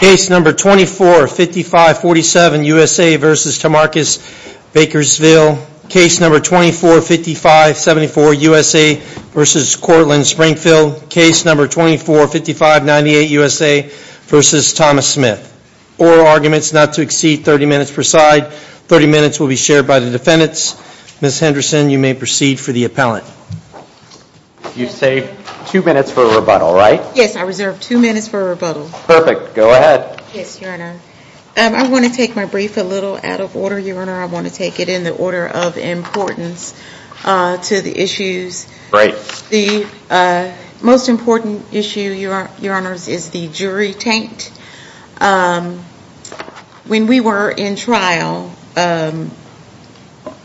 Case No. 245547, USA v. Tomarcus Baskerville. Case No. 245574, USA v. Courtland-Springfield. Case No. 245598, USA v. Thomas Smith. Oral arguments not to exceed 30 minutes per side. 30 minutes will be shared by the defendants. Ms. Henderson, you may proceed for the appellant. You saved two minutes for a rebuttal, right? Yes, I reserved two minutes for a rebuttal. Perfect. Go ahead. Yes, Your Honor. I want to take my brief a little out of order, Your Honor. I want to take it in the order of importance to the issues. The most important issue, Your Honors, is the jury taint. When we were in trial,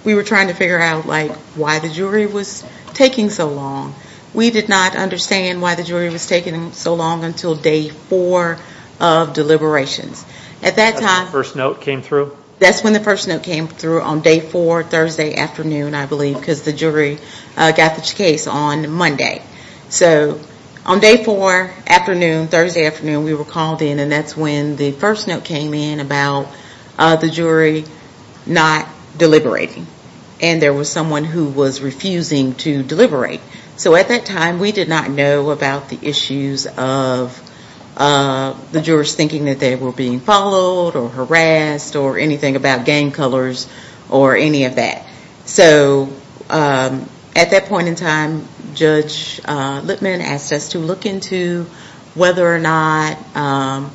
we were trying to figure out why the jury was taking so long. We did not understand why the jury was taking so long until day four of deliberations. That's when the first note came through? That's when the first note came through on day four, Thursday afternoon, I believe, because the jury got the case on Monday. So on day four, Thursday afternoon, we were called in and that's when the first note came in about the jury not deliberating. And there was someone who was refusing to deliberate. So at that time, we did not know about the issues of the jurors thinking that they were being followed or harassed or anything about gang colors or any of that. So at that point in time, Judge Lipman asked us to look into whether or not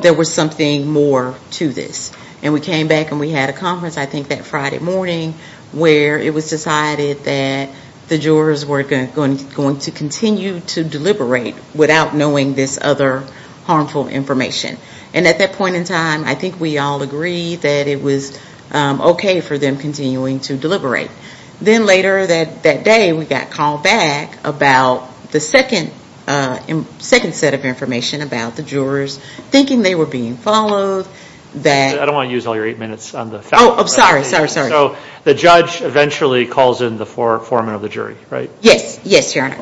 there was something more to this. And we came back and we had a conference, I think that Friday morning, where it was decided that the jurors were going to continue to deliberate without knowing this other harmful information. And at that point in time, I think we all agreed that it was okay for them continuing to deliberate. Then later that day, we got called back about the second set of information about the jurors thinking they were being followed. I don't want to use all your eight minutes on the fact. Oh, I'm sorry. Sorry. Sorry. So the judge eventually calls in the foreman of the jury, right? Yes. Yes, Your Honor.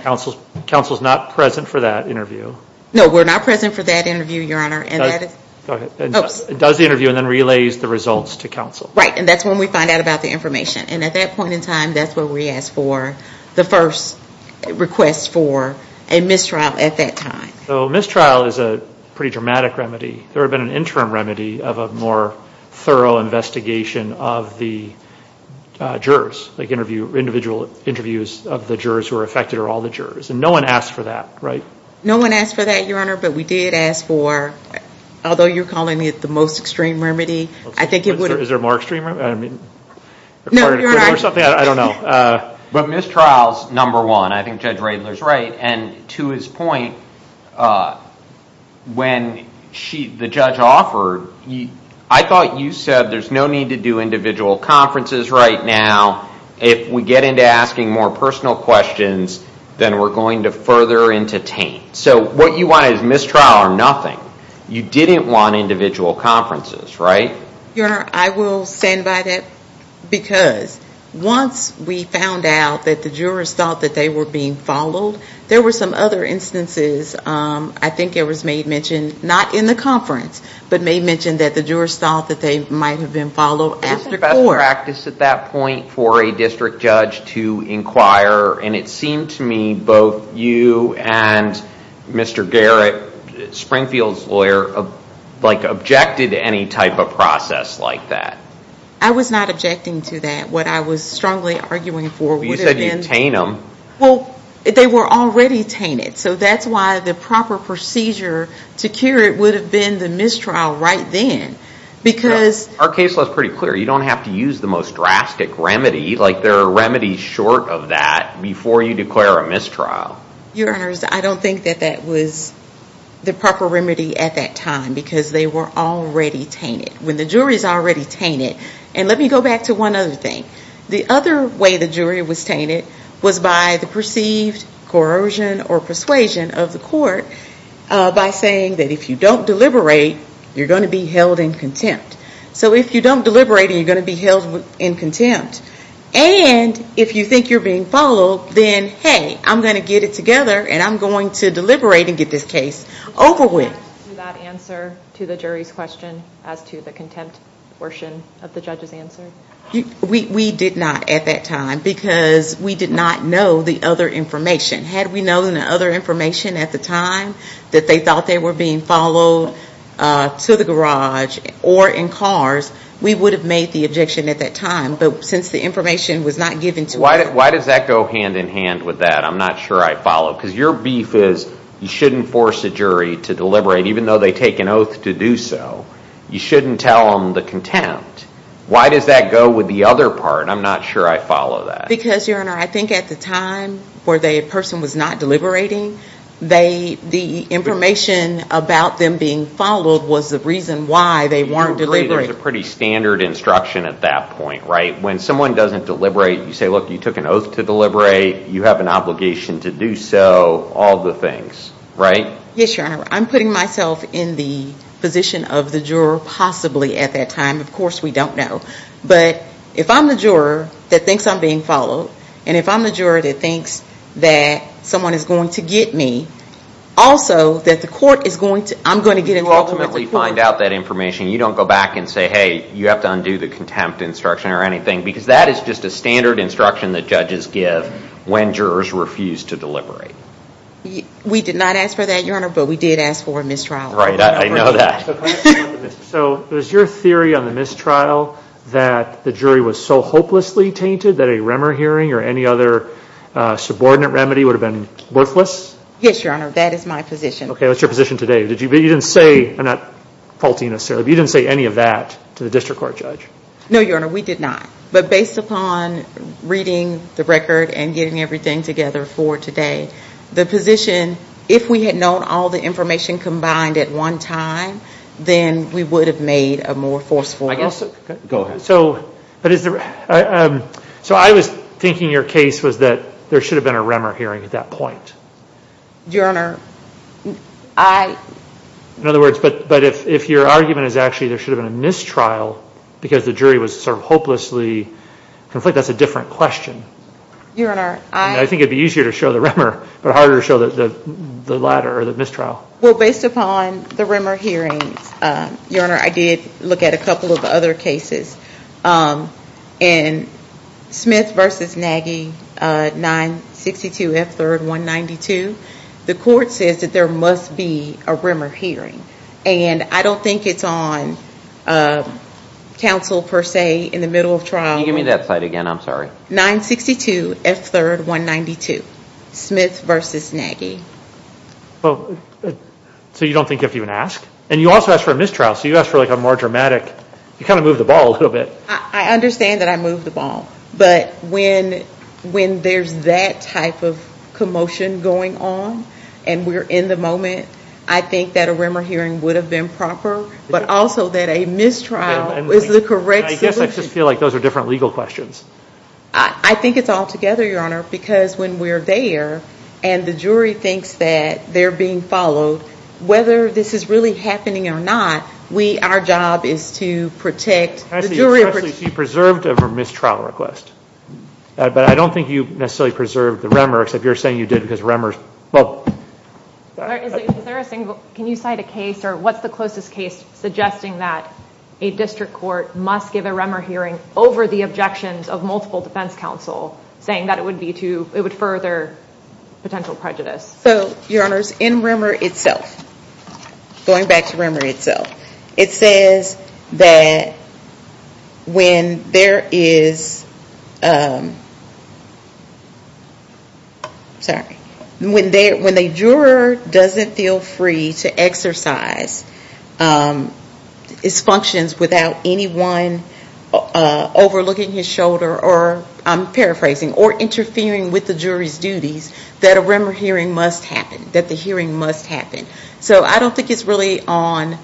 Counsel's not present for that interview. No, we're not present for that interview, Your Honor. And that is... Go ahead. It does the interview and then relays the results to counsel. Right. And that's when we find out about the information. And at that point in time, that's where we asked for the first request for a mistrial at that time. So mistrial is a pretty dramatic remedy. There had been an interim remedy of a more thorough investigation of the jurors, like individual interviews of the jurors who were affected or all the jurors. And no one asked for that, right? No one asked for that, Your Honor. But we did ask for, although you're calling it the most extreme remedy, I think it would... Is there a more extreme remedy? No, Your Honor. I don't know. But mistrial's number one. I think Judge Radler's right. And to his point, when the judge offered, I thought you said, there's no need to do individual conferences right now. If we get into asking more personal questions, then we're going to further entertain. So what you wanted is mistrial or nothing. You didn't want individual conferences, right? Your Honor, I will stand by that because once we found out that the jurors thought that they were being followed, there were some other instances, I think it was made mentioned, not in the conference, but made mentioned that the jurors thought that they might have been followed after court. What's the best practice at that point for a district judge to inquire? And it seemed to me both you and Mr. Garrett, Springfield's lawyer, objected to any type of process like that. I was not objecting to that. What I was strongly arguing for would have been... You said you'd taint them. Well, they were already tainted. So that's why the proper procedure to cure it would have been the mistrial right then because... Our case was pretty clear. You don't have to use the most drastic remedy. There are remedies short of that before you declare a mistrial. Your Honors, I don't think that that was the proper remedy at that time because they were already tainted when the jury's already tainted. And let me go back to one other thing. The other way the jury was tainted was by the perceived corrosion or persuasion of the court by saying that if you don't deliberate, you're going to be held in contempt. So if you don't deliberate, you're going to be held in contempt. And if you think you're being followed, then hey, I'm going to get it together and I'm going to deliberate and get this case over with. Did you have an answer to the jury's question as to the contempt portion of the judge's answer? We did not at that time because we did not know the other information. Had we known the other time that they thought they were being followed to the garage or in cars, we would have made the objection at that time. But since the information was not given to us... Why does that go hand in hand with that? I'm not sure I follow. Because your beef is you shouldn't force a jury to deliberate even though they take an oath to do so. You shouldn't tell them the contempt. Why does that go with the other part? I'm not sure I follow that. Because, your honor, I think at the time where the person was not deliberating, the information about them being followed was the reason why they weren't deliberating. There's a pretty standard instruction at that point, right? When someone doesn't deliberate, you say, look, you took an oath to deliberate. You have an obligation to do so, all the things, right? Yes, your honor. I'm putting myself in the position of the juror possibly at that time. Of course, we don't know. But if I'm the juror that thinks I'm being followed, and if I'm the juror that thinks that someone is going to get me, also that the court is going to... I'm going to get involved with the court. You ultimately find out that information. You don't go back and say, hey, you have to undo the contempt instruction or anything, because that is just a standard instruction that judges give when jurors refuse to deliberate. We did not ask for that, your honor, but we did ask for a mistrial. Right, I know that. So, is your theory on the mistrial that the jury was so hopelessly tainted that a remer hearing or any other subordinate remedy would have been worthless? Yes, your honor, that is my position. Okay, what's your position today? You didn't say, I'm not faulty necessarily, but you didn't say any of that to the district court judge. No, your honor, we did not. But based upon reading the record and getting everything together for today, the position, if we had known all the information combined at one time, then we would have made a more forceful... Go ahead. So, I was thinking your case was that there should have been a remer hearing at that point. Your honor, I... In other words, but if your argument is actually there should have been a mistrial because the jury was sort of hopelessly conflicted, that's a different question. Your honor, I... I think it'd be easier to show the remer, but harder to show the latter or the mistrial. Well, based upon the remer hearings, your honor, I did look at a couple of other cases. In Smith v. Nagy, 962F3R192, the court says that there must be a remer hearing. And I don't think it's on counsel per se in the middle of trial. Can you give me that site again? I'm sorry. 962F3R192, Smith v. Nagy. Well, so you don't think you have to even ask? And you also asked for a mistrial, so you asked for a more dramatic... You kind of moved the ball a little bit. I understand that I moved the ball, but when there's that type of commotion going on and we're in the moment, I think that a remer hearing would have been proper, but also that a mistrial is the correct solution. I guess I just feel like those are different legal questions. I think it's all together, your honor, because when we're there and the jury thinks that they're being followed, whether this is really happening or not, our job is to protect the jury. You preserved a mistrial request, but I don't think you necessarily preserved the remer, except you're saying you did because remers... Well... Can you cite a case or what's the closest case suggesting that a district court must give a saying that it would further potential prejudice? So, your honors, in remer itself, going back to remer itself, it says that when there is... Sorry. When the juror doesn't feel free to exercise his functions without anyone overlooking his shoulder or, I'm paraphrasing, or interfering with the jury's duties, that a remer hearing must happen, that the hearing must happen. So I don't think it's really on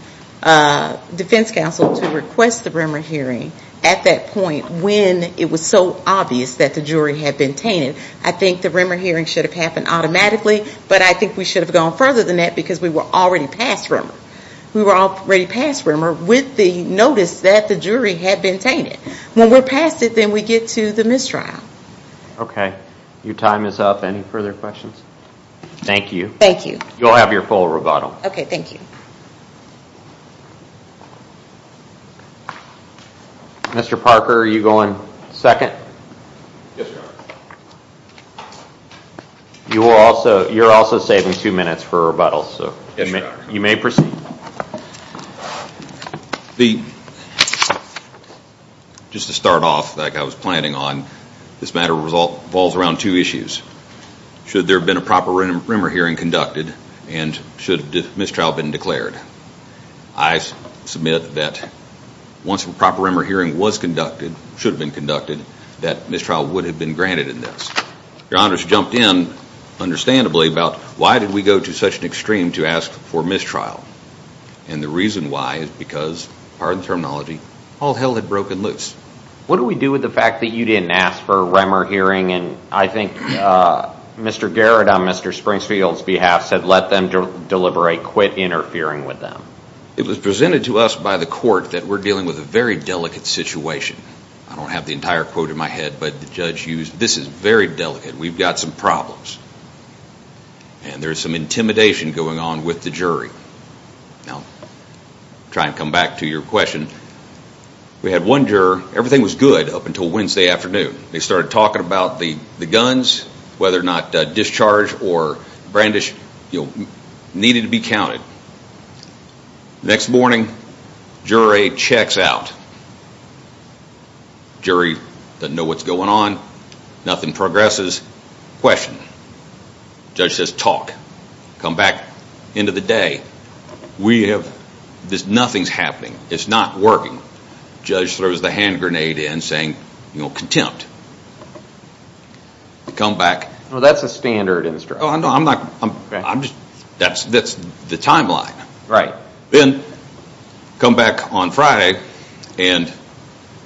defense counsel to request the remer hearing at that point when it was so obvious that the jury had been tainted. I think the remer hearing should have happened automatically, but I think we should have gone further than that because we were already past with the notice that the jury had been tainted. When we're past it, then we get to the mistrial. Okay. Your time is up. Any further questions? Thank you. Thank you. You'll have your full rebuttal. Okay. Thank you. Mr. Parker, are you going second? Yes, your honor. You're also saving two minutes for rebuttals, so you may proceed. The, just to start off like I was planning on, this matter revolves around two issues. Should there have been a proper remer hearing conducted and should mistrial have been declared? I submit that once a proper remer hearing was conducted, should have been conducted, that mistrial would have been granted in this. Your honors jumped in understandably about why did we go to such an extreme to ask for mistrial? And the reason why is because, pardon the terminology, all hell had broken loose. What do we do with the fact that you didn't ask for a remer hearing and I think Mr. Garrett, on Mr. Springfield's behalf, said let them deliberate, quit interfering with them? It was presented to us by the court that we're dealing with a very delicate situation. I don't have the entire quote in my head, but the judge used, this is very delicate. We've got some problems and there's some intimidation going on with the jury. Now, try and come back to your question. We had one juror, everything was good up until Wednesday afternoon. They started talking about the guns, whether or not discharge or brandish, needed to be counted. Next morning, jury checks out. Jury doesn't know what's going on, nothing progresses. Question. Judge says talk. Come back, end of the day, nothing's happening. It's not working. Judge throws the hand grenade in saying contempt. Come back. Well, that's a standard in this trial. No, I'm not, that's the timeline. Right. Then come back on Friday and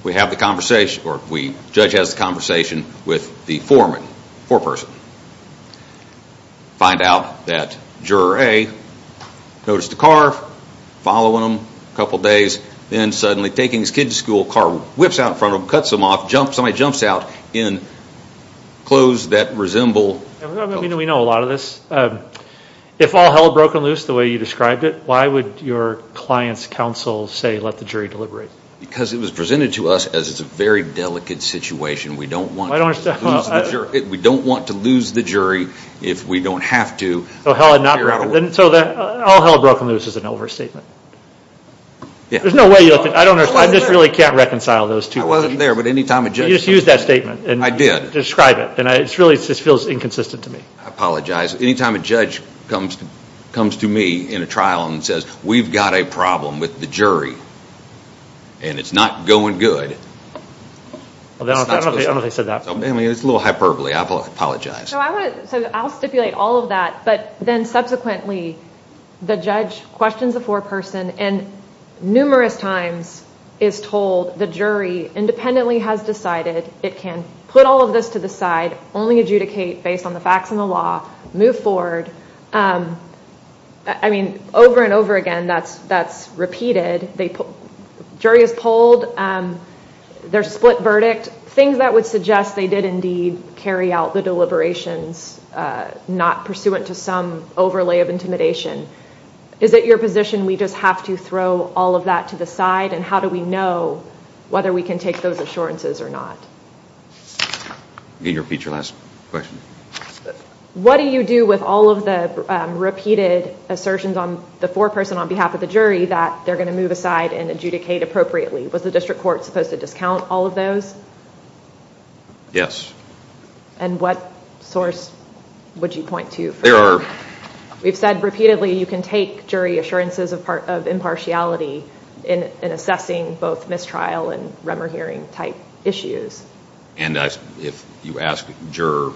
we have the conversation, or the judge has the conversation with the foreman, foreperson. Find out that juror A noticed the car, following him a couple of days, then suddenly taking his kid to school, car whips out in front of him, cuts him off, somebody jumps out in clothes that resemble... We know a lot of this. If all hell broke loose the way you described it, why would your client's counsel say let the jury deliberate? Because it was presented to us as it's a very delicate situation. We don't want to lose the jury if we don't have to. So all hell broke loose is an overstatement. There's no way, I just really can't reconcile those two. I wasn't there, but any time a judge... You just used that statement. I did. Describe it, and it really just feels inconsistent to me. I apologize. Any time a judge comes to me in a trial and says we've got a problem with the jury and it's not going good, it's a little hyperbole. I apologize. I'll stipulate all of that, but then subsequently the judge questions the foreperson and numerous times is told the jury independently has decided it can put all of this to the side, only adjudicate based on the facts and the law, move forward. Over and over again, that's repeated. The jury is polled. There's a split verdict. Things that would suggest they did indeed carry out the deliberations, not pursuant to some overlay of intimidation. Is it your position we just have to throw all of that to the side, and how do we know whether we can take those assurances or not? Can you repeat your last question? What do you do with all of the repeated assertions on the foreperson on behalf of the jury that they're going to move aside and adjudicate appropriately? Was the district court supposed to discount all of those? Yes. And what source would you point to? There are... We've said repeatedly you can take jury assurances of impartiality in assessing both mistrial and rumor hearing type issues. And if you ask juror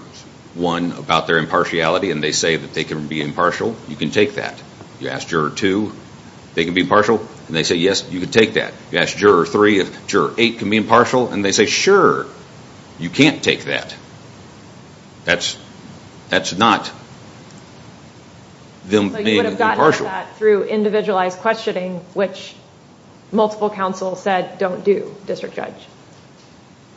one about their impartiality and they say that they can be impartial, you can take that. You ask juror two, they can be impartial, and they say, yes, you can take that. You ask juror three if juror eight can be impartial, and they say, sure, you can't take that. That's not them being impartial. But you would have gotten at that through individualized questioning, which multiple counsel said don't do, District Judge.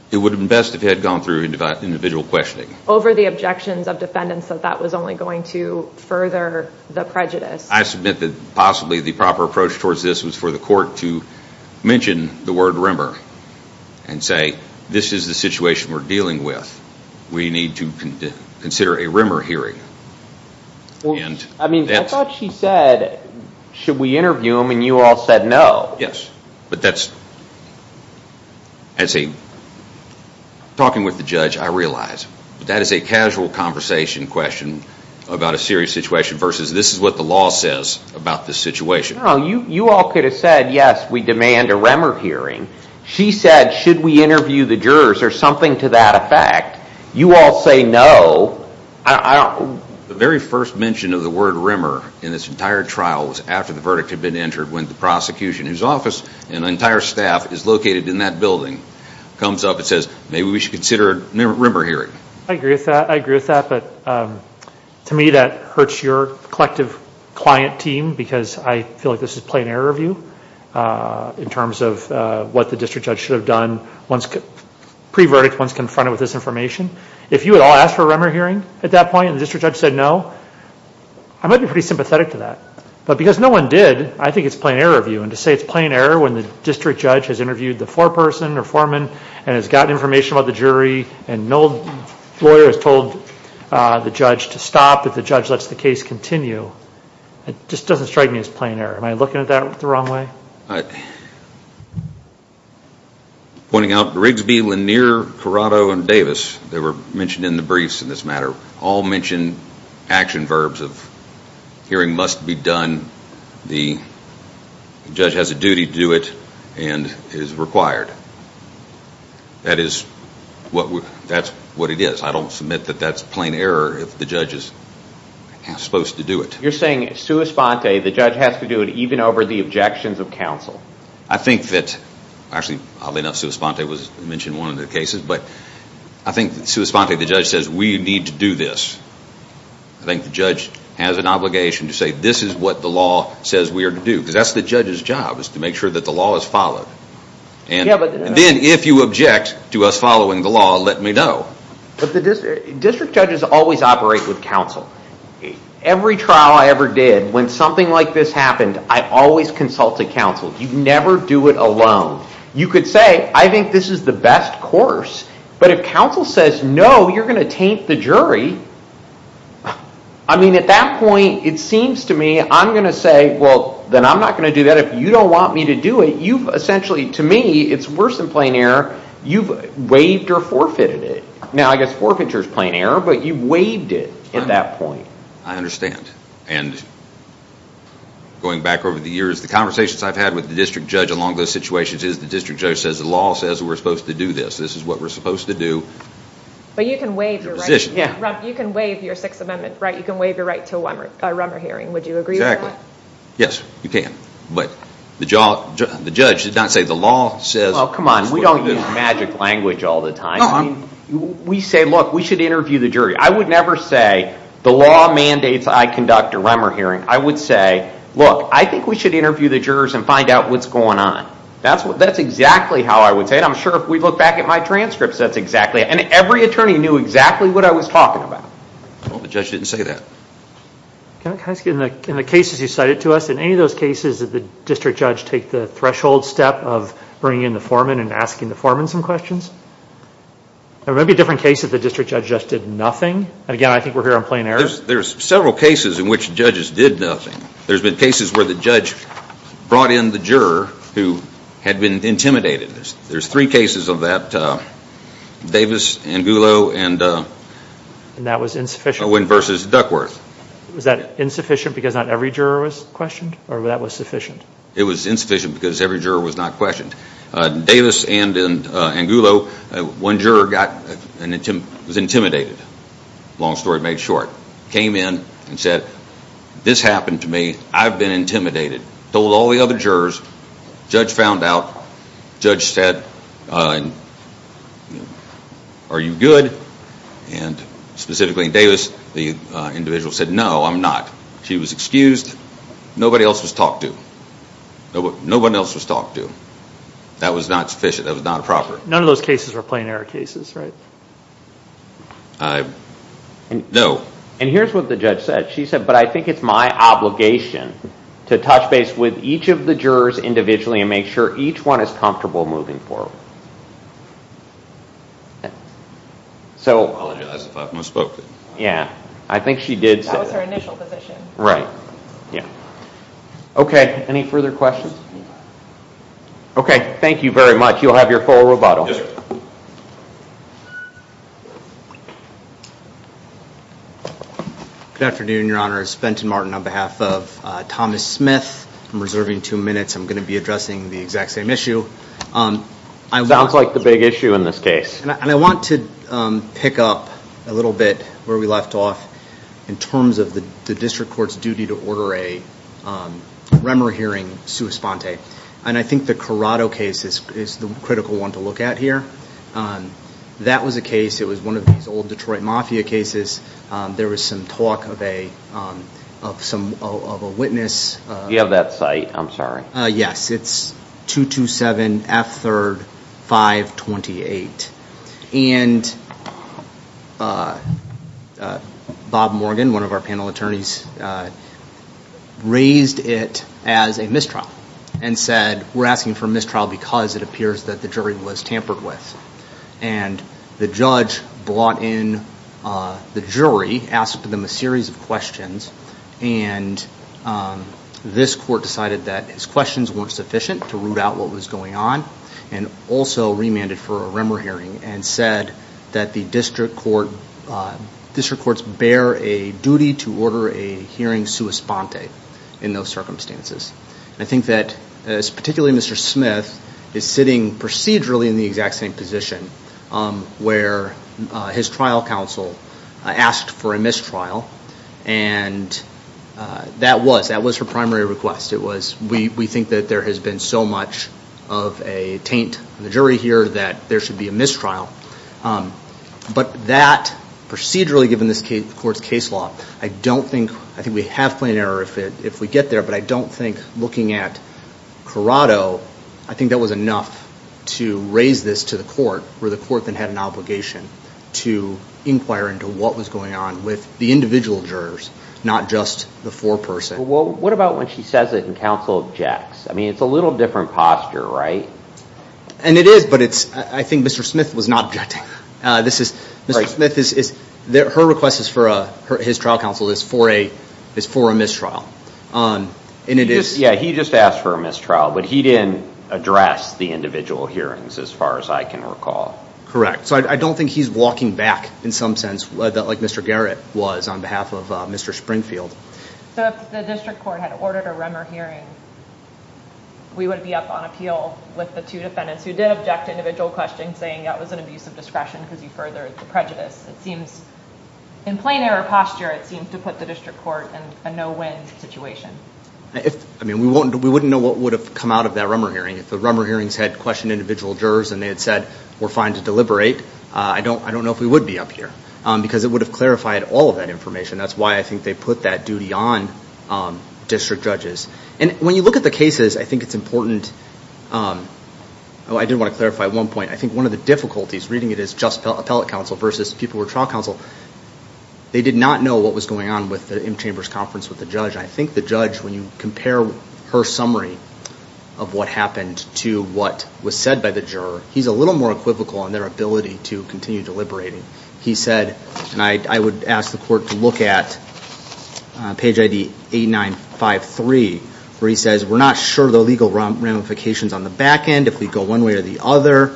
It would have been best if it had gone through individual questioning. Over the objections of defendants that that was only going to further the prejudice. I submit that possibly the proper approach towards this was for the court to mention the word rumor and say, this is the situation we're dealing with. We need to consider a rumor hearing. I mean, I thought she said, should we interview him? And you all said no. That's a, talking with the judge, I realize that is a casual conversation question about a serious situation versus this is what the law says about the situation. You all could have said, yes, we demand a rumor hearing. She said, should we interview the jurors or something to that effect? You all say no. The very first mention of the word rumor in this entire trial was after the verdict had entered when the prosecution, whose office and entire staff is located in that building, comes up and says, maybe we should consider a rumor hearing. I agree with that. I agree with that. But to me, that hurts your collective client team because I feel like this is plain error of you in terms of what the District Judge should have done once, pre-verdict, once confronted with this information. If you had all asked for a rumor hearing at that point and the District Judge said no, I might be pretty sympathetic to that. But because no one did, I think it's plain error of you. And to say it's plain error when the District Judge has interviewed the foreperson or foreman and has gotten information about the jury and no lawyer has told the judge to stop if the judge lets the case continue, it just doesn't strike me as plain error. Am I looking at that the wrong way? All right. Pointing out Rigsby, Lanier, Corrado, and Davis, they were mentioned in the briefs in all mentioned action verbs of hearing must be done, the judge has a duty to do it, and it is required. That is what it is. I don't submit that that's plain error if the judge is supposed to do it. You're saying sui sponte, the judge has to do it even over the objections of counsel? I think that, actually oddly enough, sui sponte was mentioned in one of the cases. But I think sui sponte, the judge says, we need to do this. I think the judge has an obligation to say this is what the law says we are to do. Because that's the judge's job is to make sure that the law is followed. And then if you object to us following the law, let me know. District judges always operate with counsel. Every trial I ever did, when something like this happened, I always consulted counsel. You never do it alone. You could say, I think this is the best course. But if counsel says, no, you're going to taint the jury, I mean, at that point, it seems to me I'm going to say, well, then I'm not going to do that. If you don't want me to do it, you've essentially, to me, it's worse than plain error. You've waived or forfeited it. Now, I guess forfeiture is plain error, but you waived it at that point. I understand. And going back over the years, the conversations I've had with the district judge along those situations is the district judge says, the law says we're supposed to do this. This is what we're supposed to do. But you can waive your right. Yeah. You can waive your Sixth Amendment right. You can waive your right to a Rummer hearing. Would you agree with that? Yes, you can. But the judge did not say, the law says. Oh, come on. We don't use magic language all the time. We say, look, we should interview the jury. I would never say, the law mandates I conduct a Rummer hearing. I would say, look, I think we should interview the jurors and find out what's going on. That's exactly how I would say it. I'm sure if we look back at my transcripts, that's exactly it. And every attorney knew exactly what I was talking about. Well, the judge didn't say that. Can I ask you, in the cases you cited to us, in any of those cases, did the district judge take the threshold step of bringing in the foreman and asking the foreman some questions? There may be different cases the district judge just did nothing. Again, I think we're here on plain error. There's several cases in which judges did nothing. There's been cases where the judge brought in the juror who had been intimidated. There's three cases of that. Davis, Angulo, and versus Duckworth. Was that insufficient because not every juror was questioned? Or that was sufficient? It was insufficient because every juror was not questioned. Davis and Angulo, one juror was intimidated. Long story made short. Came in and said, this happened to me. I've been intimidated. Told all the other jurors. Judge found out. Judge said, are you good? And specifically in Davis, the individual said, no, I'm not. She was excused. Nobody else was talked to. Nobody else was talked to. That was not sufficient. That was not appropriate. None of those cases were plain error cases, right? No. And here's what the judge said. She said, but I think it's my obligation to touch base with each of the jurors individually and make sure each one is comfortable moving forward. I apologize if I've misspoke. Yeah, I think she did say that. That was her initial position. Right, yeah. OK, any further questions? OK, thank you very much. You'll have your full rebuttal. Yes, sir. Good afternoon, your honors. Benton Martin on behalf of Thomas Smith. I'm reserving two minutes. I'm going to be addressing the exact same issue. Sounds like the big issue in this case. And I want to pick up a little bit where we left off in terms of the district court's duty to order a Remmer hearing sua sponte. And I think the Corrado case is the critical one to look at here. And that was a case, it was one of these old Detroit mafia cases. There was some talk of a witness. You have that site. I'm sorry. Yes, it's 227 F 3rd 528. And Bob Morgan, one of our panel attorneys, raised it as a mistrial and said, we're asking for mistrial because it appears that the jury was tampered with. And the judge brought in the jury, asked them a series of questions. And this court decided that his questions weren't sufficient to root out what was going on and also remanded for a Remmer hearing and said that the district courts bear a duty to order a hearing sua sponte in those circumstances. I think that particularly Mr. Smith is sitting procedurally in the exact same position where his trial counsel asked for a mistrial. And that was her primary request. It was, we think that there has been so much of a taint in the jury here that there should be a mistrial. But that procedurally, given this court's case law, I don't think, I think we have if we get there, but I don't think looking at Corrado, I think that was enough to raise this to the court where the court then had an obligation to inquire into what was going on with the individual jurors, not just the four person. Well, what about when she says it and counsel objects? I mean, it's a little different posture, right? And it is, but it's, I think Mr. Smith was not objecting. This is, Mr. Smith is, her request is for his trial counsel is for a mistrial. And it is. Yeah, he just asked for a mistrial, but he didn't address the individual hearings as far as I can recall. Correct. So I don't think he's walking back in some sense like Mr. Garrett was on behalf of Mr. Springfield. So if the district court had ordered a Remmer hearing, we would be up on appeal with the two defendants who did object to individual questions saying that was an abuse of discretion because you furthered the prejudice. It seems in plain error posture, it seems to put the district court in a no-win situation. I mean, we wouldn't know what would have come out of that Remmer hearing. If the Remmer hearings had questioned individual jurors and they had said we're fine to deliberate, I don't know if we would be up here because it would have clarified all of that information. That's why I think they put that duty on district judges. And when you look at the cases, I think it's important. Oh, I did want to clarify one point. I think one of the difficulties reading it as just appellate counsel versus people who were trial counsel, they did not know what was going on with the M Chambers conference with the judge. I think the judge, when you compare her summary of what happened to what was said by the juror, he's a little more equivocal in their ability to continue deliberating. He said, and I would ask the court to look at page ID 8953 where he says, we're not sure the legal ramifications on the back end if we go one way or the other.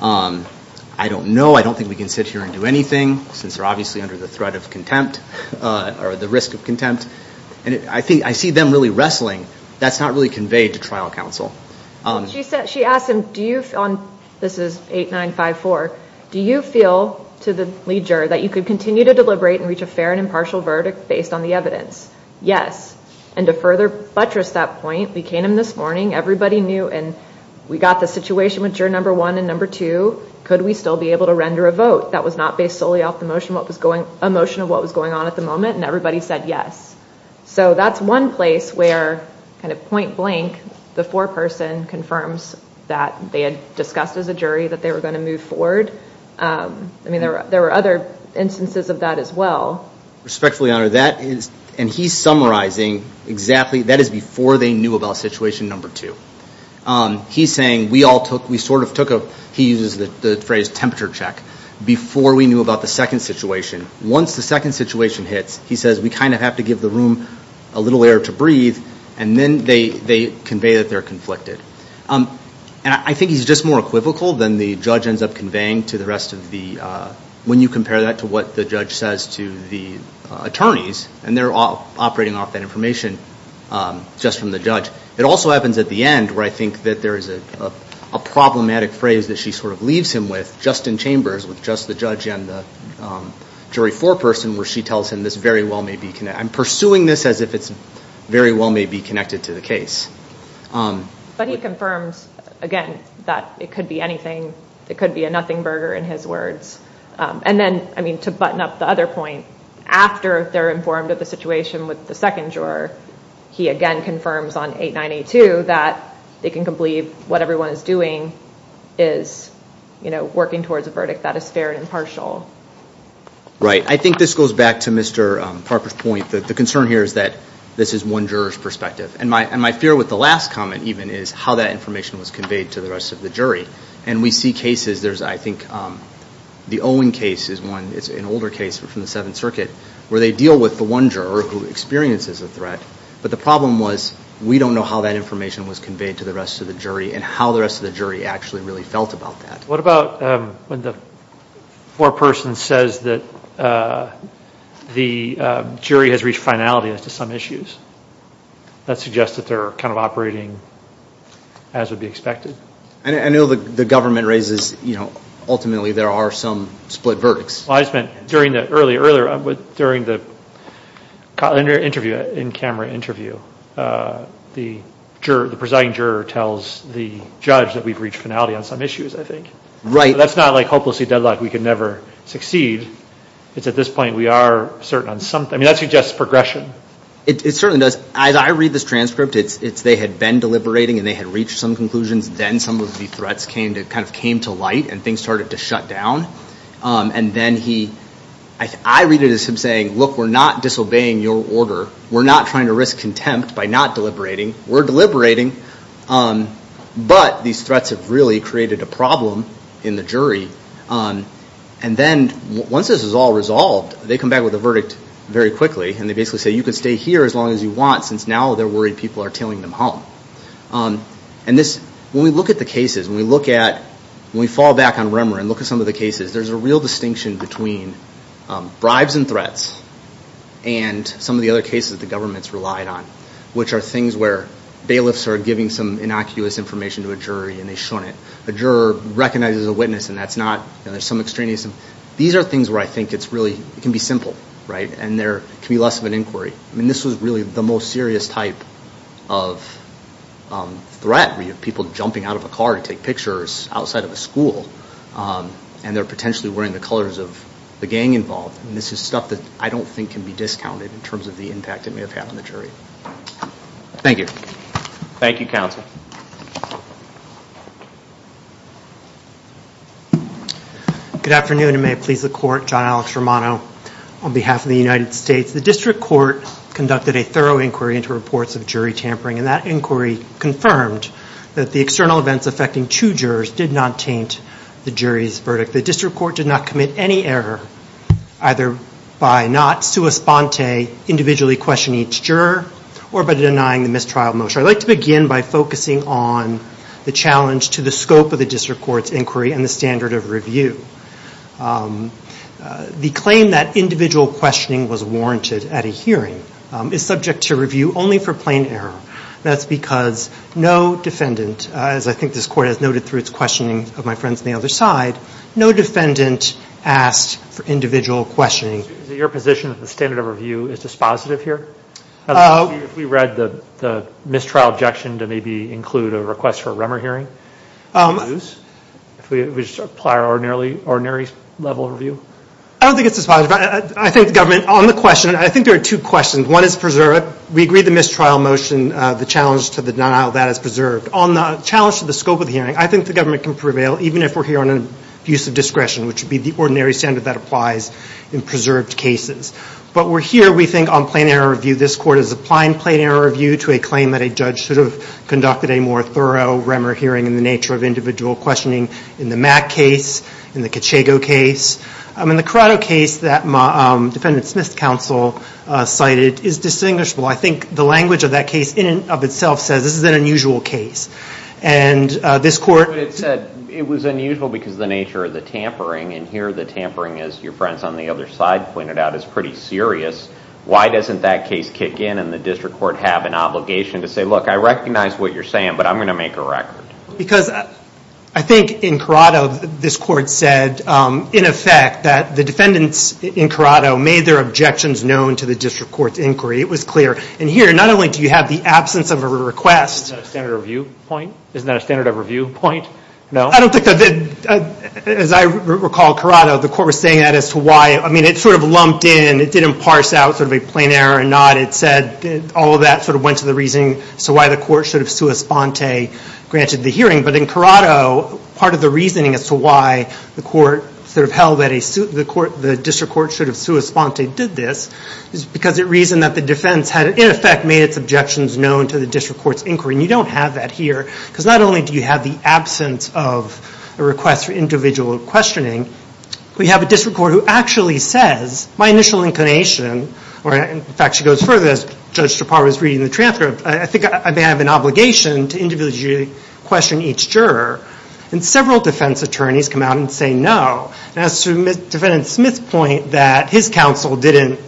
I don't know. I don't think we can sit here and do anything since they're obviously under the threat of contempt or the risk of contempt. And I think I see them really wrestling. That's not really conveyed to trial counsel. She asked him, do you, this is 8954, do you feel to the lead juror that you could continue to deliberate and reach a fair and impartial verdict based on the evidence? Yes. And to further buttress that point, we came in this morning, everybody knew, and we got the situation with juror number one and number two, could we still be able to render a vote that was not based solely off the motion of what was going on at the moment? And everybody said yes. So that's one place where kind of point blank, the foreperson confirms that they had discussed as a jury that they were going to move forward. I mean, there were other instances of that as well. Respectfully honored. And he's summarizing exactly, that is before they knew about situation number two. He's saying we all took, we sort of took a, he uses the phrase temperature check, before we knew about the second situation. Once the second situation hits, he says we kind of have to give the room a little air to breathe, and then they convey that they're conflicted. And I think he's just more equivocal than the judge ends up conveying to the rest of the, when you compare that to what the judge says to the attorneys, and they're operating off that information just from the judge. It also happens at the end where I think that there is a problematic phrase that she sort of leaves him with, just in chambers with just the judge and the jury foreperson where she tells him this very well may be, I'm pursuing this as if it's very well may be connected to the case. But he confirms, again, that it could be anything. It could be a nothing burger in his words. And then, I mean, to button up the other point, after they're informed of the situation with the second juror, he again confirms on 8982 that they can believe what everyone is doing is, you know, working towards a verdict that is fair and impartial. Right. I think this goes back to Mr. Parker's point that the concern here is that this is one juror's perspective. And my fear with the last comment even is how that information was conveyed to the rest of the jury. And we see cases, there's I think the Owen case is one, it's an older case from the Seventh Circuit where they deal with the one juror who experiences a threat. But the problem was we don't know how that information was conveyed to the rest of the jury and how the rest of the jury actually really felt about that. What about when the foreperson says that the jury has reached finality as to some issues? That suggests that they're kind of operating as would be expected. I know the government raises, you know, ultimately there are some split verdicts. I spent, during the earlier, during the interview, in-camera interview, the presiding juror tells the judge that we've reached finality on some issues, I think. Right. That's not like hopelessly deadlocked, we can never succeed. It's at this point we are certain on something. I mean, that suggests progression. It certainly does. As I read this transcript, it's they had been deliberating and they had reached some conclusions. Then some of the threats came to light and things started to shut down. And then he, I read it as him saying, look, we're not disobeying your order. We're not trying to risk contempt by not deliberating. We're deliberating. But these threats have really created a problem in the jury. And then once this is all resolved, they come back with a verdict very quickly. And they basically say, you can stay here as long as you want since now they're worried people are tailing them home. And this, when we look at the cases, when we look at, when we fall back on Remmer and look at some of the cases, there's a real distinction between bribes and threats and some of the other cases the government's relied on, which are things where bailiffs are giving some innocuous information to a jury and they shouldn't. A juror recognizes a witness and that's not, there's some extraneous. These are things where I think it's really, it can be simple, right? And there can be less of an inquiry. And this was really the most serious type of threat, where you have people jumping out of a car to take pictures outside of a school. And they're potentially wearing the colors of the gang involved. And this is stuff that I don't think can be discounted in terms of the impact it may have had on the jury. Thank you. Thank you, counsel. Good afternoon, and may it please the court. John Alex Romano on behalf of the United States. The district court conducted a thorough inquiry into reports of jury tampering, and that inquiry confirmed that the external events affecting two jurors did not taint the jury's verdict. The district court did not commit any error, either by not sua sponte, individually questioning each juror, or by denying the mistrial motion. I'd like to begin by focusing on the challenge to the scope of the district court's inquiry and the standard of review. The claim that individual questioning was warranted at a hearing is subject to review only for plain error. That's because no defendant, as I think this court has noted through its questioning of my friends on the other side, no defendant asked for individual questioning. Is it your position that the standard of review is dispositive here? If we read the mistrial objection to maybe include a request for a REMER hearing, if we apply our ordinary level of review? I don't think it's dispositive. I think the government, on the question, I think there are two questions. One is preserved. We agree the mistrial motion, the challenge to the denial of that is preserved. On the challenge to the scope of the hearing, I think the government can prevail even if we're here on an abuse of discretion, which would be the ordinary standard that applies in preserved cases. But we're here, we think, on plain error review. This court is applying plain error review to a claim that a judge should have conducted a more thorough REMER hearing in the nature of individual questioning in the Mack case, in the Cachego case. In the Corrado case that Defendant Smith's counsel cited is distinguishable. I think the language of that case in and of itself says this is an unusual case. And this court- But it said it was unusual because of the nature of the tampering. And here the tampering, as your friends on the other side pointed out, is pretty serious. Why doesn't that case kick in and the district court have an obligation to say, look, I recognize what you're saying, but I'm going to make a record. Because I think in Corrado, this court said, in effect, that the defendants in Corrado made their objections known to the district court's inquiry. It was clear. And here, not only do you have the absence of a request- Isn't that a standard review point? Isn't that a standard of review point? No? I don't think that, as I recall, Corrado, the court was saying that as to why, I mean, it sort of lumped in. It didn't parse out sort of a plain error or not. All of that sort of went to the reasoning as to why the court should have sua sponte granted the hearing. But in Corrado, part of the reasoning as to why the court sort of held that the district court should have sua sponte did this is because it reasoned that the defense had, in effect, made its objections known to the district court's inquiry. And you don't have that here. Because not only do you have the absence of a request for individual questioning, but you have a district court who actually says, my initial inclination- in fact, she goes further. As Judge Chaparro was reading the transcript, I think I may have an obligation to individually question each juror. And several defense attorneys come out and say no. And as to Defendant Smith's point that his counsel didn't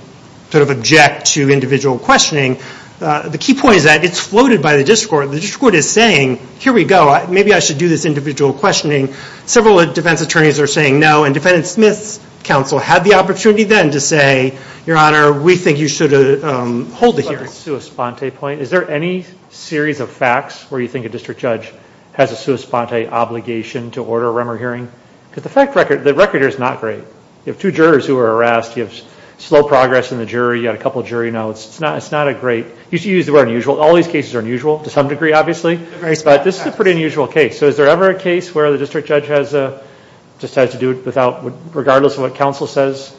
sort of object to individual questioning, the key point is that it's floated by the district court. The district court is saying, here we go. Maybe I should do this individual questioning. Several defense attorneys are saying no. And Defendant Smith's counsel had the opportunity then to say, Your Honor, we think you should hold the hearing. On the sua sponte point, is there any series of facts where you think a district judge has a sua sponte obligation to order a Remmer hearing? Because the record here is not great. You have two jurors who were harassed. You have slow progress in the jury. You had a couple of jury notes. It's not a great- you used the word unusual. All these cases are unusual, to some degree, obviously. But this is a pretty unusual case. So is there ever a case where the district judge just has to do it regardless of what counsel says?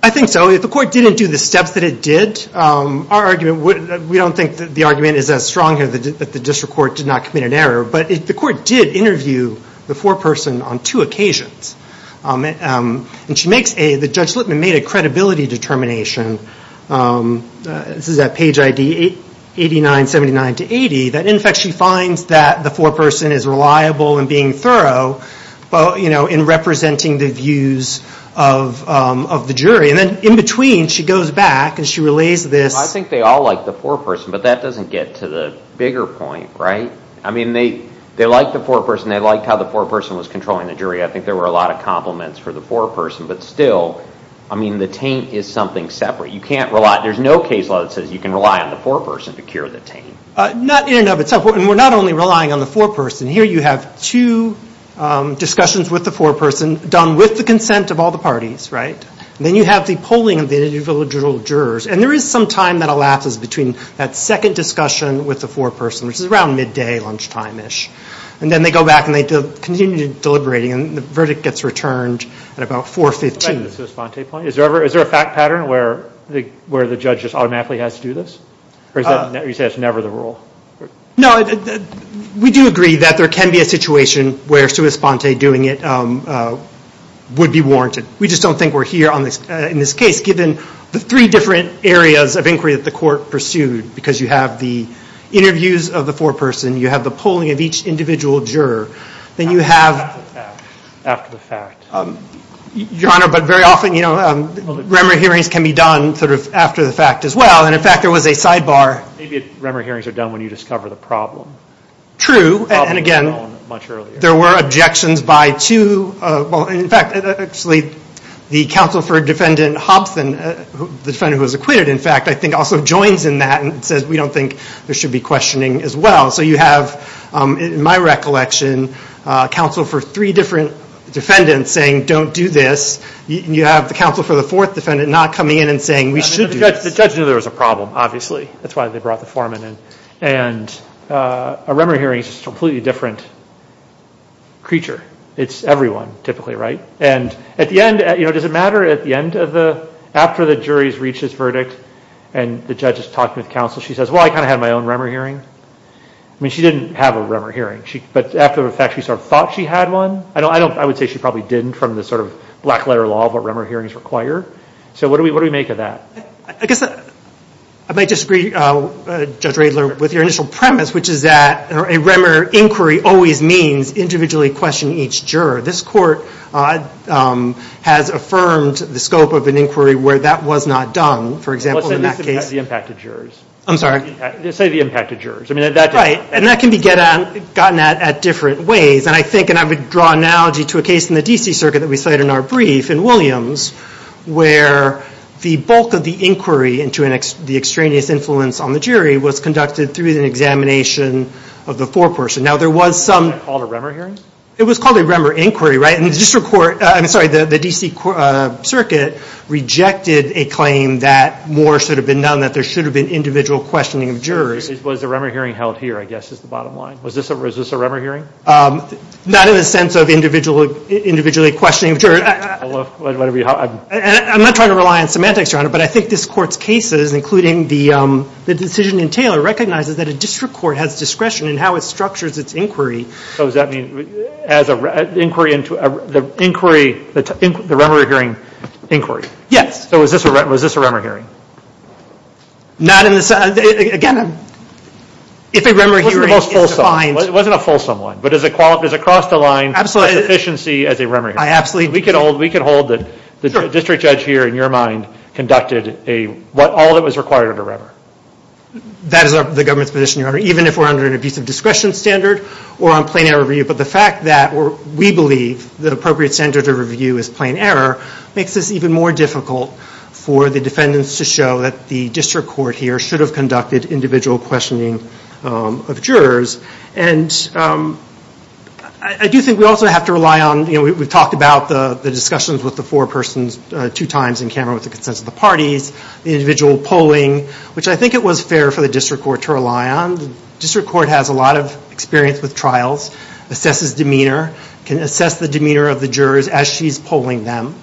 I think so. The court didn't do the steps that it did. We don't think that the argument is as strong here that the district court did not commit an error. But the court did interview the foreperson on two occasions. Judge Lippman made a credibility determination. This is at page ID 8979-80. In fact, she finds that the foreperson is reliable in being thorough in representing the views of the jury. In between, she goes back and she relays this- I think they all like the foreperson. But that doesn't get to the bigger point, right? I mean, they liked the foreperson. They liked how the foreperson was controlling the jury. I think there were a lot of compliments for the foreperson. But still, I mean, the taint is something separate. You can't rely- there's no case law that says you can rely on the foreperson to cure the taint. Not in and of itself. And we're not only relying on the foreperson. Here you have two discussions with the foreperson done with the consent of all the parties, right? Then you have the polling of the individual jurors. And there is some time that elapses between that second discussion with the foreperson, which is around midday, lunchtime-ish. And then they go back and they continue deliberating. And the verdict gets returned at about 4.15. Back to the Suis-Ponte point, is there a fact pattern where the judge just automatically has to do this? Or is that- you say that's never the rule? No, we do agree that there can be a situation where Suis-Ponte doing it would be warranted. We just don't think we're here in this case, given the three different areas of inquiry that the court pursued. Because you have the interviews of the foreperson. You have the polling of each individual juror. Then you have- After the fact. Your Honor, but very often, you know, Remmer hearings can be done sort of after the fact as well. And in fact, there was a sidebar- Maybe Remmer hearings are done when you discover the problem. True, and again- The problem was known much earlier. There were objections by two- Well, in fact, actually, the counsel for defendant Hobson, the defendant who was acquitted, in fact, I think also joins in that and says we don't think there should be questioning as well. So you have, in my recollection, counsel for three different defendants saying don't do this. You have the counsel for the fourth defendant not coming in and saying we should do this. The judge knew there was a problem, obviously. That's why they brought the foreman in. And a Remmer hearing is a completely different creature. It's everyone, typically, right? And at the end, you know, does it matter at the end of the- After the jury has reached its verdict and the judge has talked with counsel, she says, well, I kind of had my own Remmer hearing. I mean, she didn't have a Remmer hearing, but after the fact, she sort of thought she had one. I don't- I would say she probably didn't from the sort of black letter law of what Remmer hearings require. So what do we make of that? I guess I might disagree, Judge Radler, with your initial premise, which is that a Remmer inquiry always means individually questioning each juror. This court has affirmed the scope of an inquiry where that was not done. For example, in that case- The impact of jurors. I'm sorry? Say the impact of jurors. I mean, that- Right. And that can be gotten at at different ways. And I think, and I would draw analogy to a case in the DC circuit that we cite in our Williams, where the bulk of the inquiry into the extraneous influence on the jury was conducted through an examination of the foreperson. Now, there was some- Was that called a Remmer hearing? It was called a Remmer inquiry, right? And the district court, I'm sorry, the DC circuit rejected a claim that more should have been done, that there should have been individual questioning of jurors. Was the Remmer hearing held here, I guess, is the bottom line? Was this a Remmer hearing? Not in the sense of individually questioning jurors. I'm not trying to rely on semantics, Your Honor, but I think this court's cases, including the decision in Taylor, recognizes that a district court has discretion in how it structures its inquiry. So does that mean as an inquiry into the inquiry, the Remmer hearing inquiry? Yes. So was this a Remmer hearing? Not in the sense, again, if a Remmer hearing is defined- It wasn't a fulsome one, but does it cross the line of sufficiency as a Remmer hearing? I absolutely- We can hold that the district judge here, in your mind, conducted all that was required at a Remmer. That is the government's position, Your Honor, even if we're under an abusive discretion standard or on plain error review. But the fact that we believe the appropriate standard of review is plain error makes this even more difficult for the defendants to show that the district court here should have conducted individual questioning of jurors. And I do think we also have to rely on, we've talked about the discussions with the four persons two times in camera with the consensus of the parties, the individual polling, which I think it was fair for the district court to rely on. The district court has a lot of experience with trials, assesses demeanor, can assess the demeanor of the jurors as she's polling them,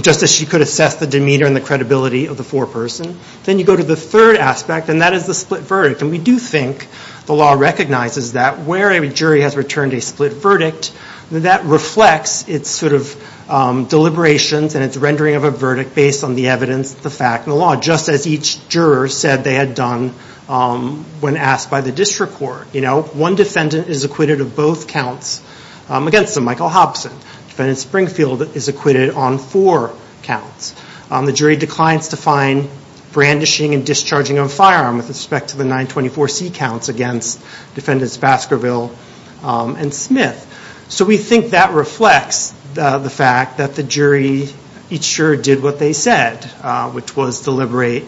just as she could assess the demeanor and the credibility of the four person. Then you go to the third aspect, and that is the split verdict. And we do think the law recognizes that where a jury has returned a split verdict, that reflects its sort of deliberations and its rendering of a verdict based on the evidence, the fact, and the law, just as each juror said they had done when asked by the district court. One defendant is acquitted of both counts against Michael Hobson. Defendant Springfield is acquitted on four counts. The jury declines to find brandishing and discharging of a firearm with respect to the 924C counts against defendants Baskerville and Smith. So we think that reflects the fact that the jury each juror did what they said, which was deliberate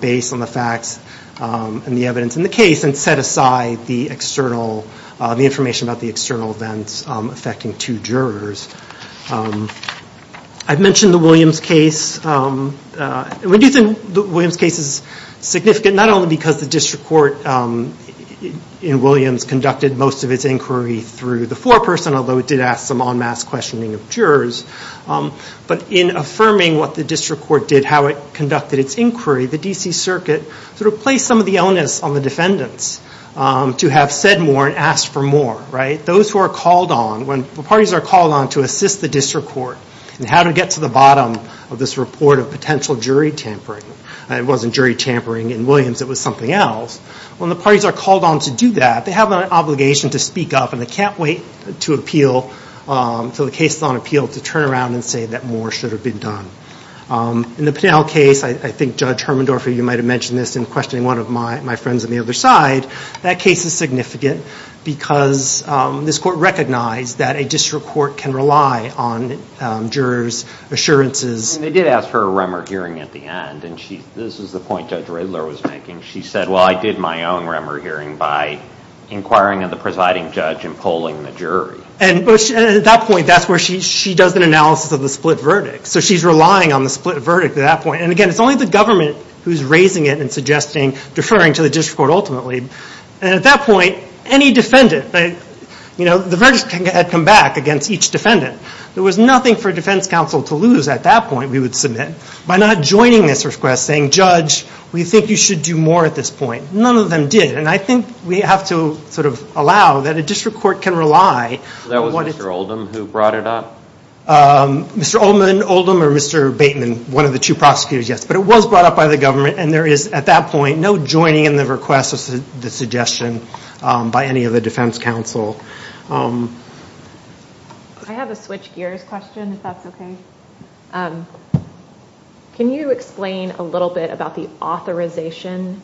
based on the facts and the evidence in the case, and set aside the information about the external events affecting two jurors. I mentioned the Williams case. We do think the Williams case is significant, not only because the district court in Williams conducted most of its inquiry through the four person, although it did ask some en masse questioning of jurors, but in affirming what the district court did, how it conducted its inquiry, the D.C. Circuit sort of placed some of the illness on the defendants to have said more and asked for more, right? When the parties are called on to assist the district court in how to get to the bottom of this report of potential jury tampering, it wasn't jury tampering in Williams, it was something else. When the parties are called on to do that, they have an obligation to speak up, and they can't wait to appeal until the case is on appeal to turn around and say that more should have been done. In the Pinnell case, I think Judge Hermendorfer, you might have mentioned this in questioning one of my friends on the other side, that case is significant because this court recognized that a district court can rely on jurors' assurances. And they did ask for a Remmer hearing at the end, and this is the point Judge Riddler was making. She said, well, I did my own Remmer hearing by inquiring of the presiding judge and polling the jury. And at that point, that's where she does an analysis of the split verdict. So she's relying on the split verdict at that point. And again, it's only the government who's raising it and suggesting, deferring to the district court ultimately. And at that point, any defendant, the verdict had come back against each defendant. There was nothing for defense counsel to lose at that point, we would submit, by not joining this request saying, Judge, we think you should do more at this point. None of them did. And I think we have to sort of allow that a district court can rely on what it's- So that was Mr. Oldham who brought it up? Mr. Oldham or Mr. Bateman, one of the two prosecutors, yes. But it was brought up by the government. And there is, at that point, no joining in the request or the suggestion by any of the defense counsel. I have a Switch Gears question, if that's OK. Can you explain a little bit about the authorization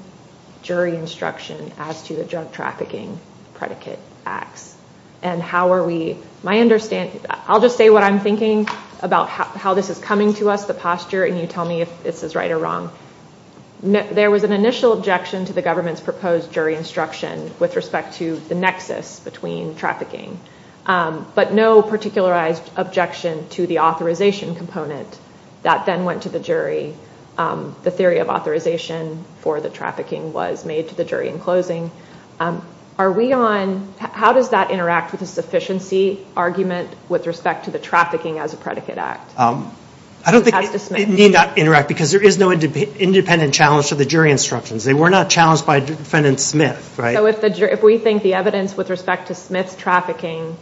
jury instruction as to the drug trafficking predicate acts? And how are we, my understanding, I'll just say what I'm thinking about how this is coming to us, the posture, and you tell me if this is right or wrong. There was an initial objection to the government's proposed jury instruction with respect to the nexus between trafficking, but no particularized objection to the authorization component that then went to the jury. The theory of authorization for the trafficking was made to the jury in closing. Are we on, how does that interact with the sufficiency argument with respect to the trafficking as a predicate act? I don't think it need not interact because there is no independent challenge to the jury instructions. They were not challenged by defendant Smith, right? So if we think the evidence with respect to Smith's trafficking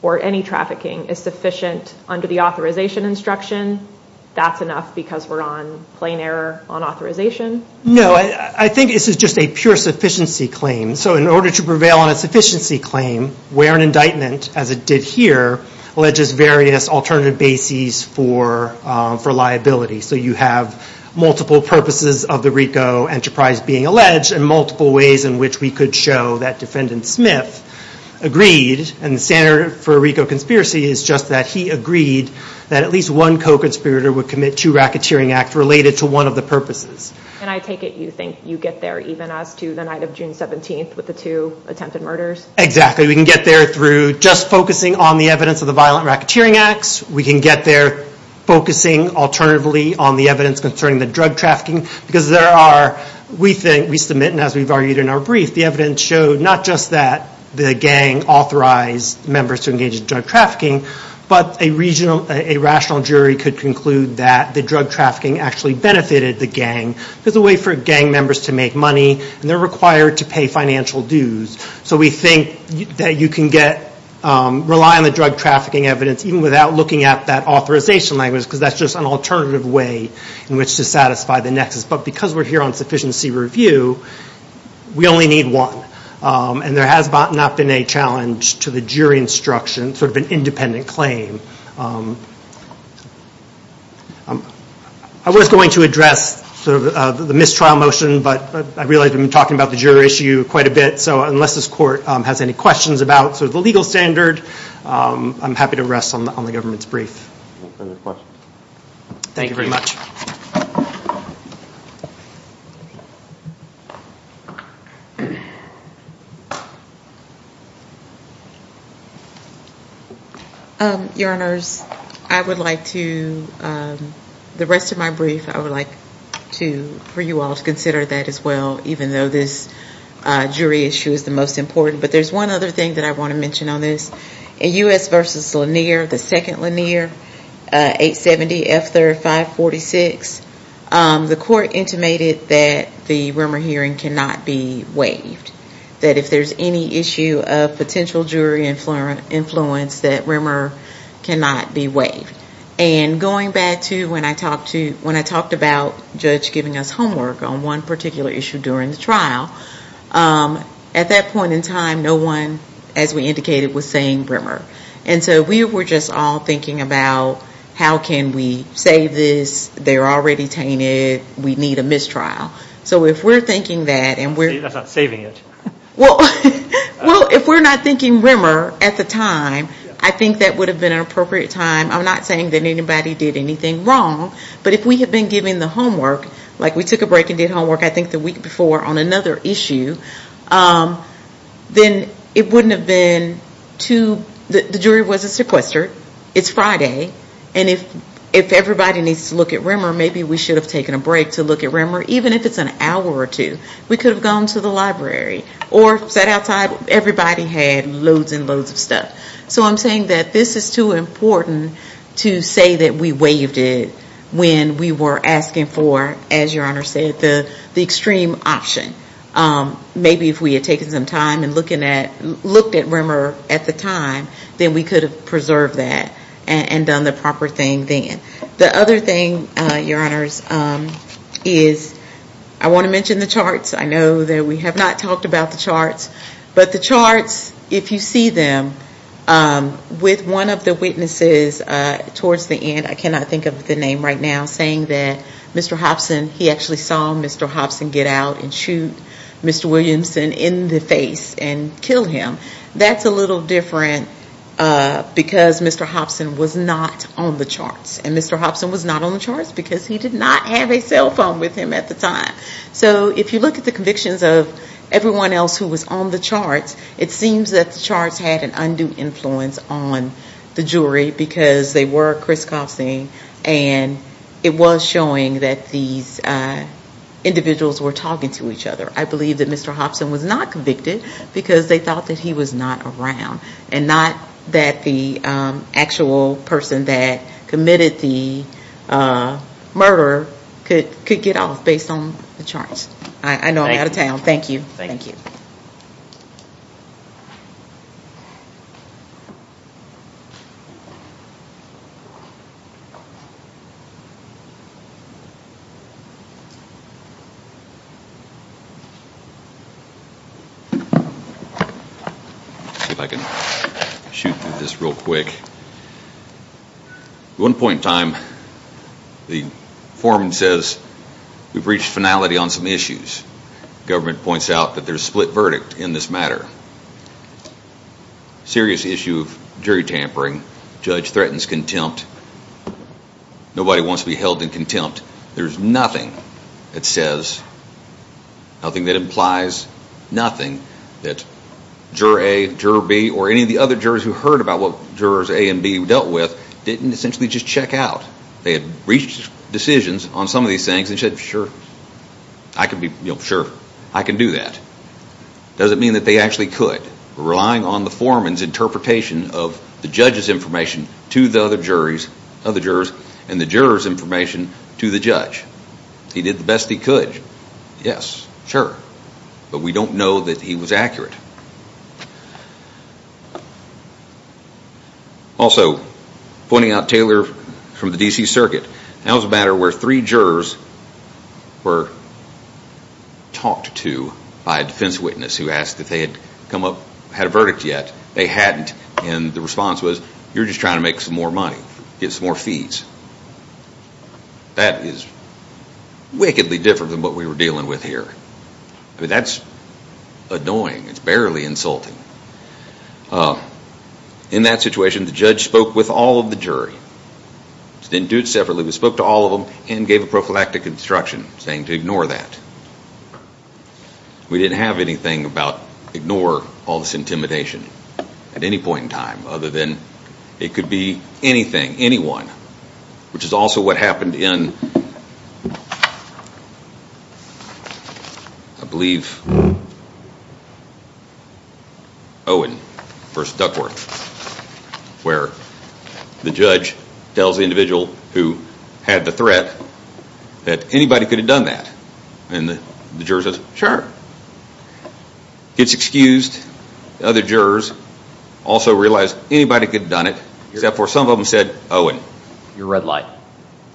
or any trafficking is sufficient under the authorization instruction, that's enough because we're on plain error on authorization? No, I think this is just a pure sufficiency claim. So in order to prevail on a sufficiency claim, where an indictment, as it did here, alleges various alternative bases for liability. So you have multiple purposes of the RICO enterprise being alleged and multiple ways in which we could show that defendant Smith agreed, and the standard for RICO conspiracy is just that he agreed that at least one co-conspirator would commit two racketeering acts related to one of the purposes. And I take it you think you get there even as to the night of June 17th with the two attempted murders? Exactly. We can get there through just focusing on the evidence of the violent racketeering acts. We can get there focusing alternatively on the evidence concerning the drug trafficking because there are, we think, we submit, and as we've argued in our brief, the evidence showed not just that the gang authorized members to engage in drug trafficking, but a regional, a rational jury could conclude that the drug trafficking actually benefited the gang. There's a way for gang members to make money, and they're required to pay financial dues. So we think that you can get, rely on the drug trafficking evidence even without looking at that authorization language because that's just an alternative way in which to satisfy the nexus. But because we're here on sufficiency review, we only need one, and there has not been a challenge to the jury instruction, sort of an independent claim. I was going to address sort of the mistrial motion, but I realize we've been talking about the jury issue quite a bit. So unless this court has any questions about sort of the legal standard, I'm happy to rest on the government's brief. Any questions? Thank you very much. Your Honors, I would like to, the rest of my brief, I would like to, for you all to consider that as well, even though this jury issue is the most important. But there's one other thing that I want to mention on this. In U.S. v. Lanier, the second Lanier, 870F3546, the court intimated that the rumor hearing cannot be waived, that if there's any issue of potential jury influence, that rumor cannot be waived. And going back to when I talked about Judge giving us homework on one particular issue during the trial, at that point in time, no one, as we indicated, was saying rumor. And so we were just all thinking about how can we save this? They're already tainted. We need a mistrial. So if we're thinking that and we're... That's not saving it. Well, if we're not thinking rumor at the time, I think that would have been an appropriate time. I'm not saying that anybody did anything wrong. But if we had been given the homework, like we took a break and did homework, I think the week before, on another issue, then it wouldn't have been too... The jury wasn't sequestered. It's Friday. And if everybody needs to look at rumor, maybe we should have taken a break to look at rumor, even if it's an hour or two. We could have gone to the library or sat outside. Everybody had loads and loads of stuff. So I'm saying that this is too important to say that we waived it when we were asking for, as Your Honor said, the extreme option. Maybe if we had taken some time and looked at rumor at the time, then we could have preserved that and done the proper thing then. The other thing, Your Honors, is I want to mention the charts. I know that we have not talked about the charts. But the charts, if you see them, with one of the witnesses towards the end, I cannot Mr. Hobson, he actually saw Mr. Hobson get out and shoot Mr. Williamson in the face and kill him. That's a little different because Mr. Hobson was not on the charts. And Mr. Hobson was not on the charts because he did not have a cell phone with him at the time. So if you look at the convictions of everyone else who was on the charts, it seems that the charts had an undue influence on the jury because they were Kristoffsing and it was showing that these individuals were talking to each other. I believe that Mr. Hobson was not convicted because they thought that he was not around and not that the actual person that committed the murder could get off based on the charts. I know I'm out of time. Thank you. Thank you. Let's see if I can shoot through this real quick. One point in time, the foreman says we've reached finality on some issues. Government points out that there's a split verdict in this matter. Serious issue of jury tampering. Judge threatens contempt. Nobody wants to be held in contempt. There's nothing that says, nothing that implies nothing that juror A, juror B or any of the other jurors who heard about what jurors A and B dealt with didn't essentially just check out. They had reached decisions on some of these things and said sure, I can do that. Doesn't mean that they actually could. Relying on the foreman's interpretation of the judge's information to the other jurors and the juror's information to the judge. He did the best he could. Yes, sure. But we don't know that he was accurate. Also, pointing out Taylor from the D.C. Circuit. That was a matter where three jurors were talked to by a defense witness who asked if they had come up, had a verdict yet. They hadn't and the response was, you're just trying to make some more money. Get some more fees. That is wickedly different than what we were dealing with here. That's annoying. It's barely insulting. In that situation, the judge spoke with all of the jury. He didn't do it separately. He spoke to all of them and gave a prophylactic instruction saying to ignore that. We didn't have anything about ignore all this intimidation at any point in time other than it could be anything, anyone, which is also what happened in, I believe, Owen v. Duckworth, where the judge tells the individual who had the threat that anybody could have done that. And the juror says, sure. Gets excused. The other jurors also realized anybody could have done it except for some of them said, Owen. Your red light.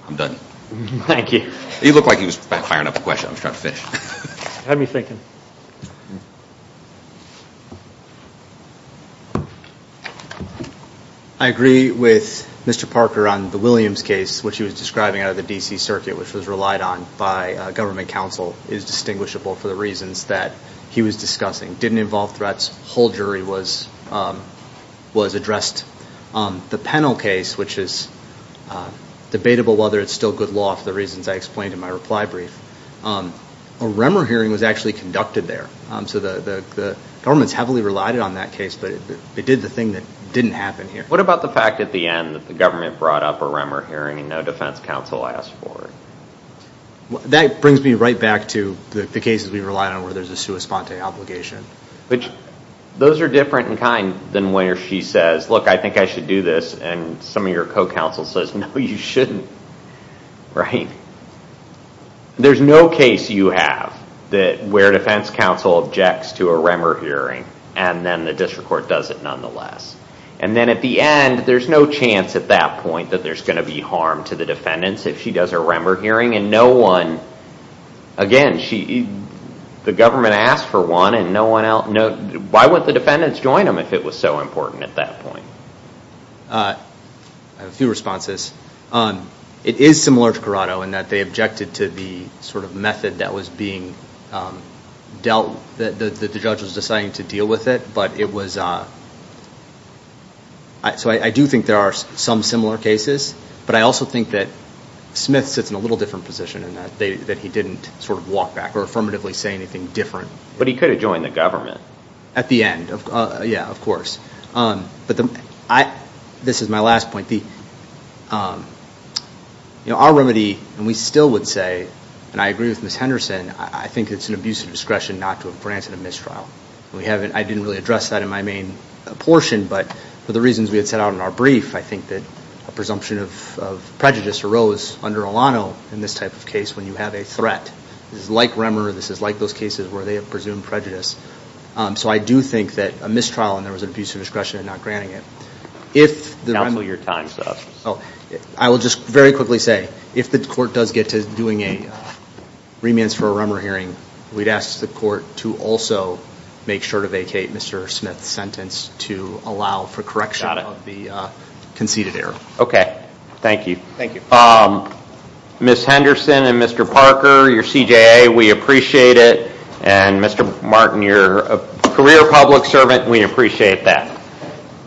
I'm done. Thank you. He looked like he was firing up a question. I'm just trying to finish. Had me thinking. I agree with Mr. Parker on the Williams case, which he was describing out of the D.C. circuit, which was relied on by government counsel, is distinguishable for the reasons that he was discussing. Didn't involve threats. Whole jury was addressed. The Pennell case, which is debatable whether it's still good law for the reasons I explained in my reply brief, a Remmer hearing was actually conducted there. So the government's heavily relied on that case, but it did the thing that didn't happen here. What about the fact at the end that the government brought up a Remmer hearing and no defense counsel asked for it? That brings me right back to the cases we rely on where there's a sua sponte obligation. Those are different in kind than where she says, look, I think I should do this. And some of your co-counsel says, no, you shouldn't. There's no case you have where defense counsel objects to a Remmer hearing, and then the district court does it nonetheless. And then at the end, there's no chance at that point that there's going to be harm to the defendants if she does a Remmer hearing. And no one, again, the government asked for one, and no one else, why wouldn't the defendants join them if it was so important at that point? I have a few responses. It is similar to Corrado in that they objected to the sort of method that was being dealt, that the judge was deciding to deal with it. But it was, so I do think there are some similar cases. But I also think that Smith sits in a little different position in that he didn't sort of walk back or affirmatively say anything different. But he could have joined the government. At the end, yeah, of course. This is my last point. Our remedy, and we still would say, and I agree with Ms. Henderson, I think it's an abuse of discretion not to have granted a mistrial. I didn't really address that in my main portion. But for the reasons we had set out in our brief, I think that a presumption of prejudice arose under Olano in this type of case when you have a threat. This is like Remmer. This is like those cases where they have presumed prejudice. So I do think that a mistrial and there was an abuse of discretion in not granting it. Counsel your time, sir. I will just very quickly say, if the court does get to doing remands for a Remmer hearing, we'd ask the court to also make sure to vacate Mr. Smith's sentence to allow for correction of the conceded error. Okay. Thank you. Thank you. Ms. Henderson and Mr. Parker, your CJA, we appreciate it. And Mr. Martin, your career public servant, we appreciate that.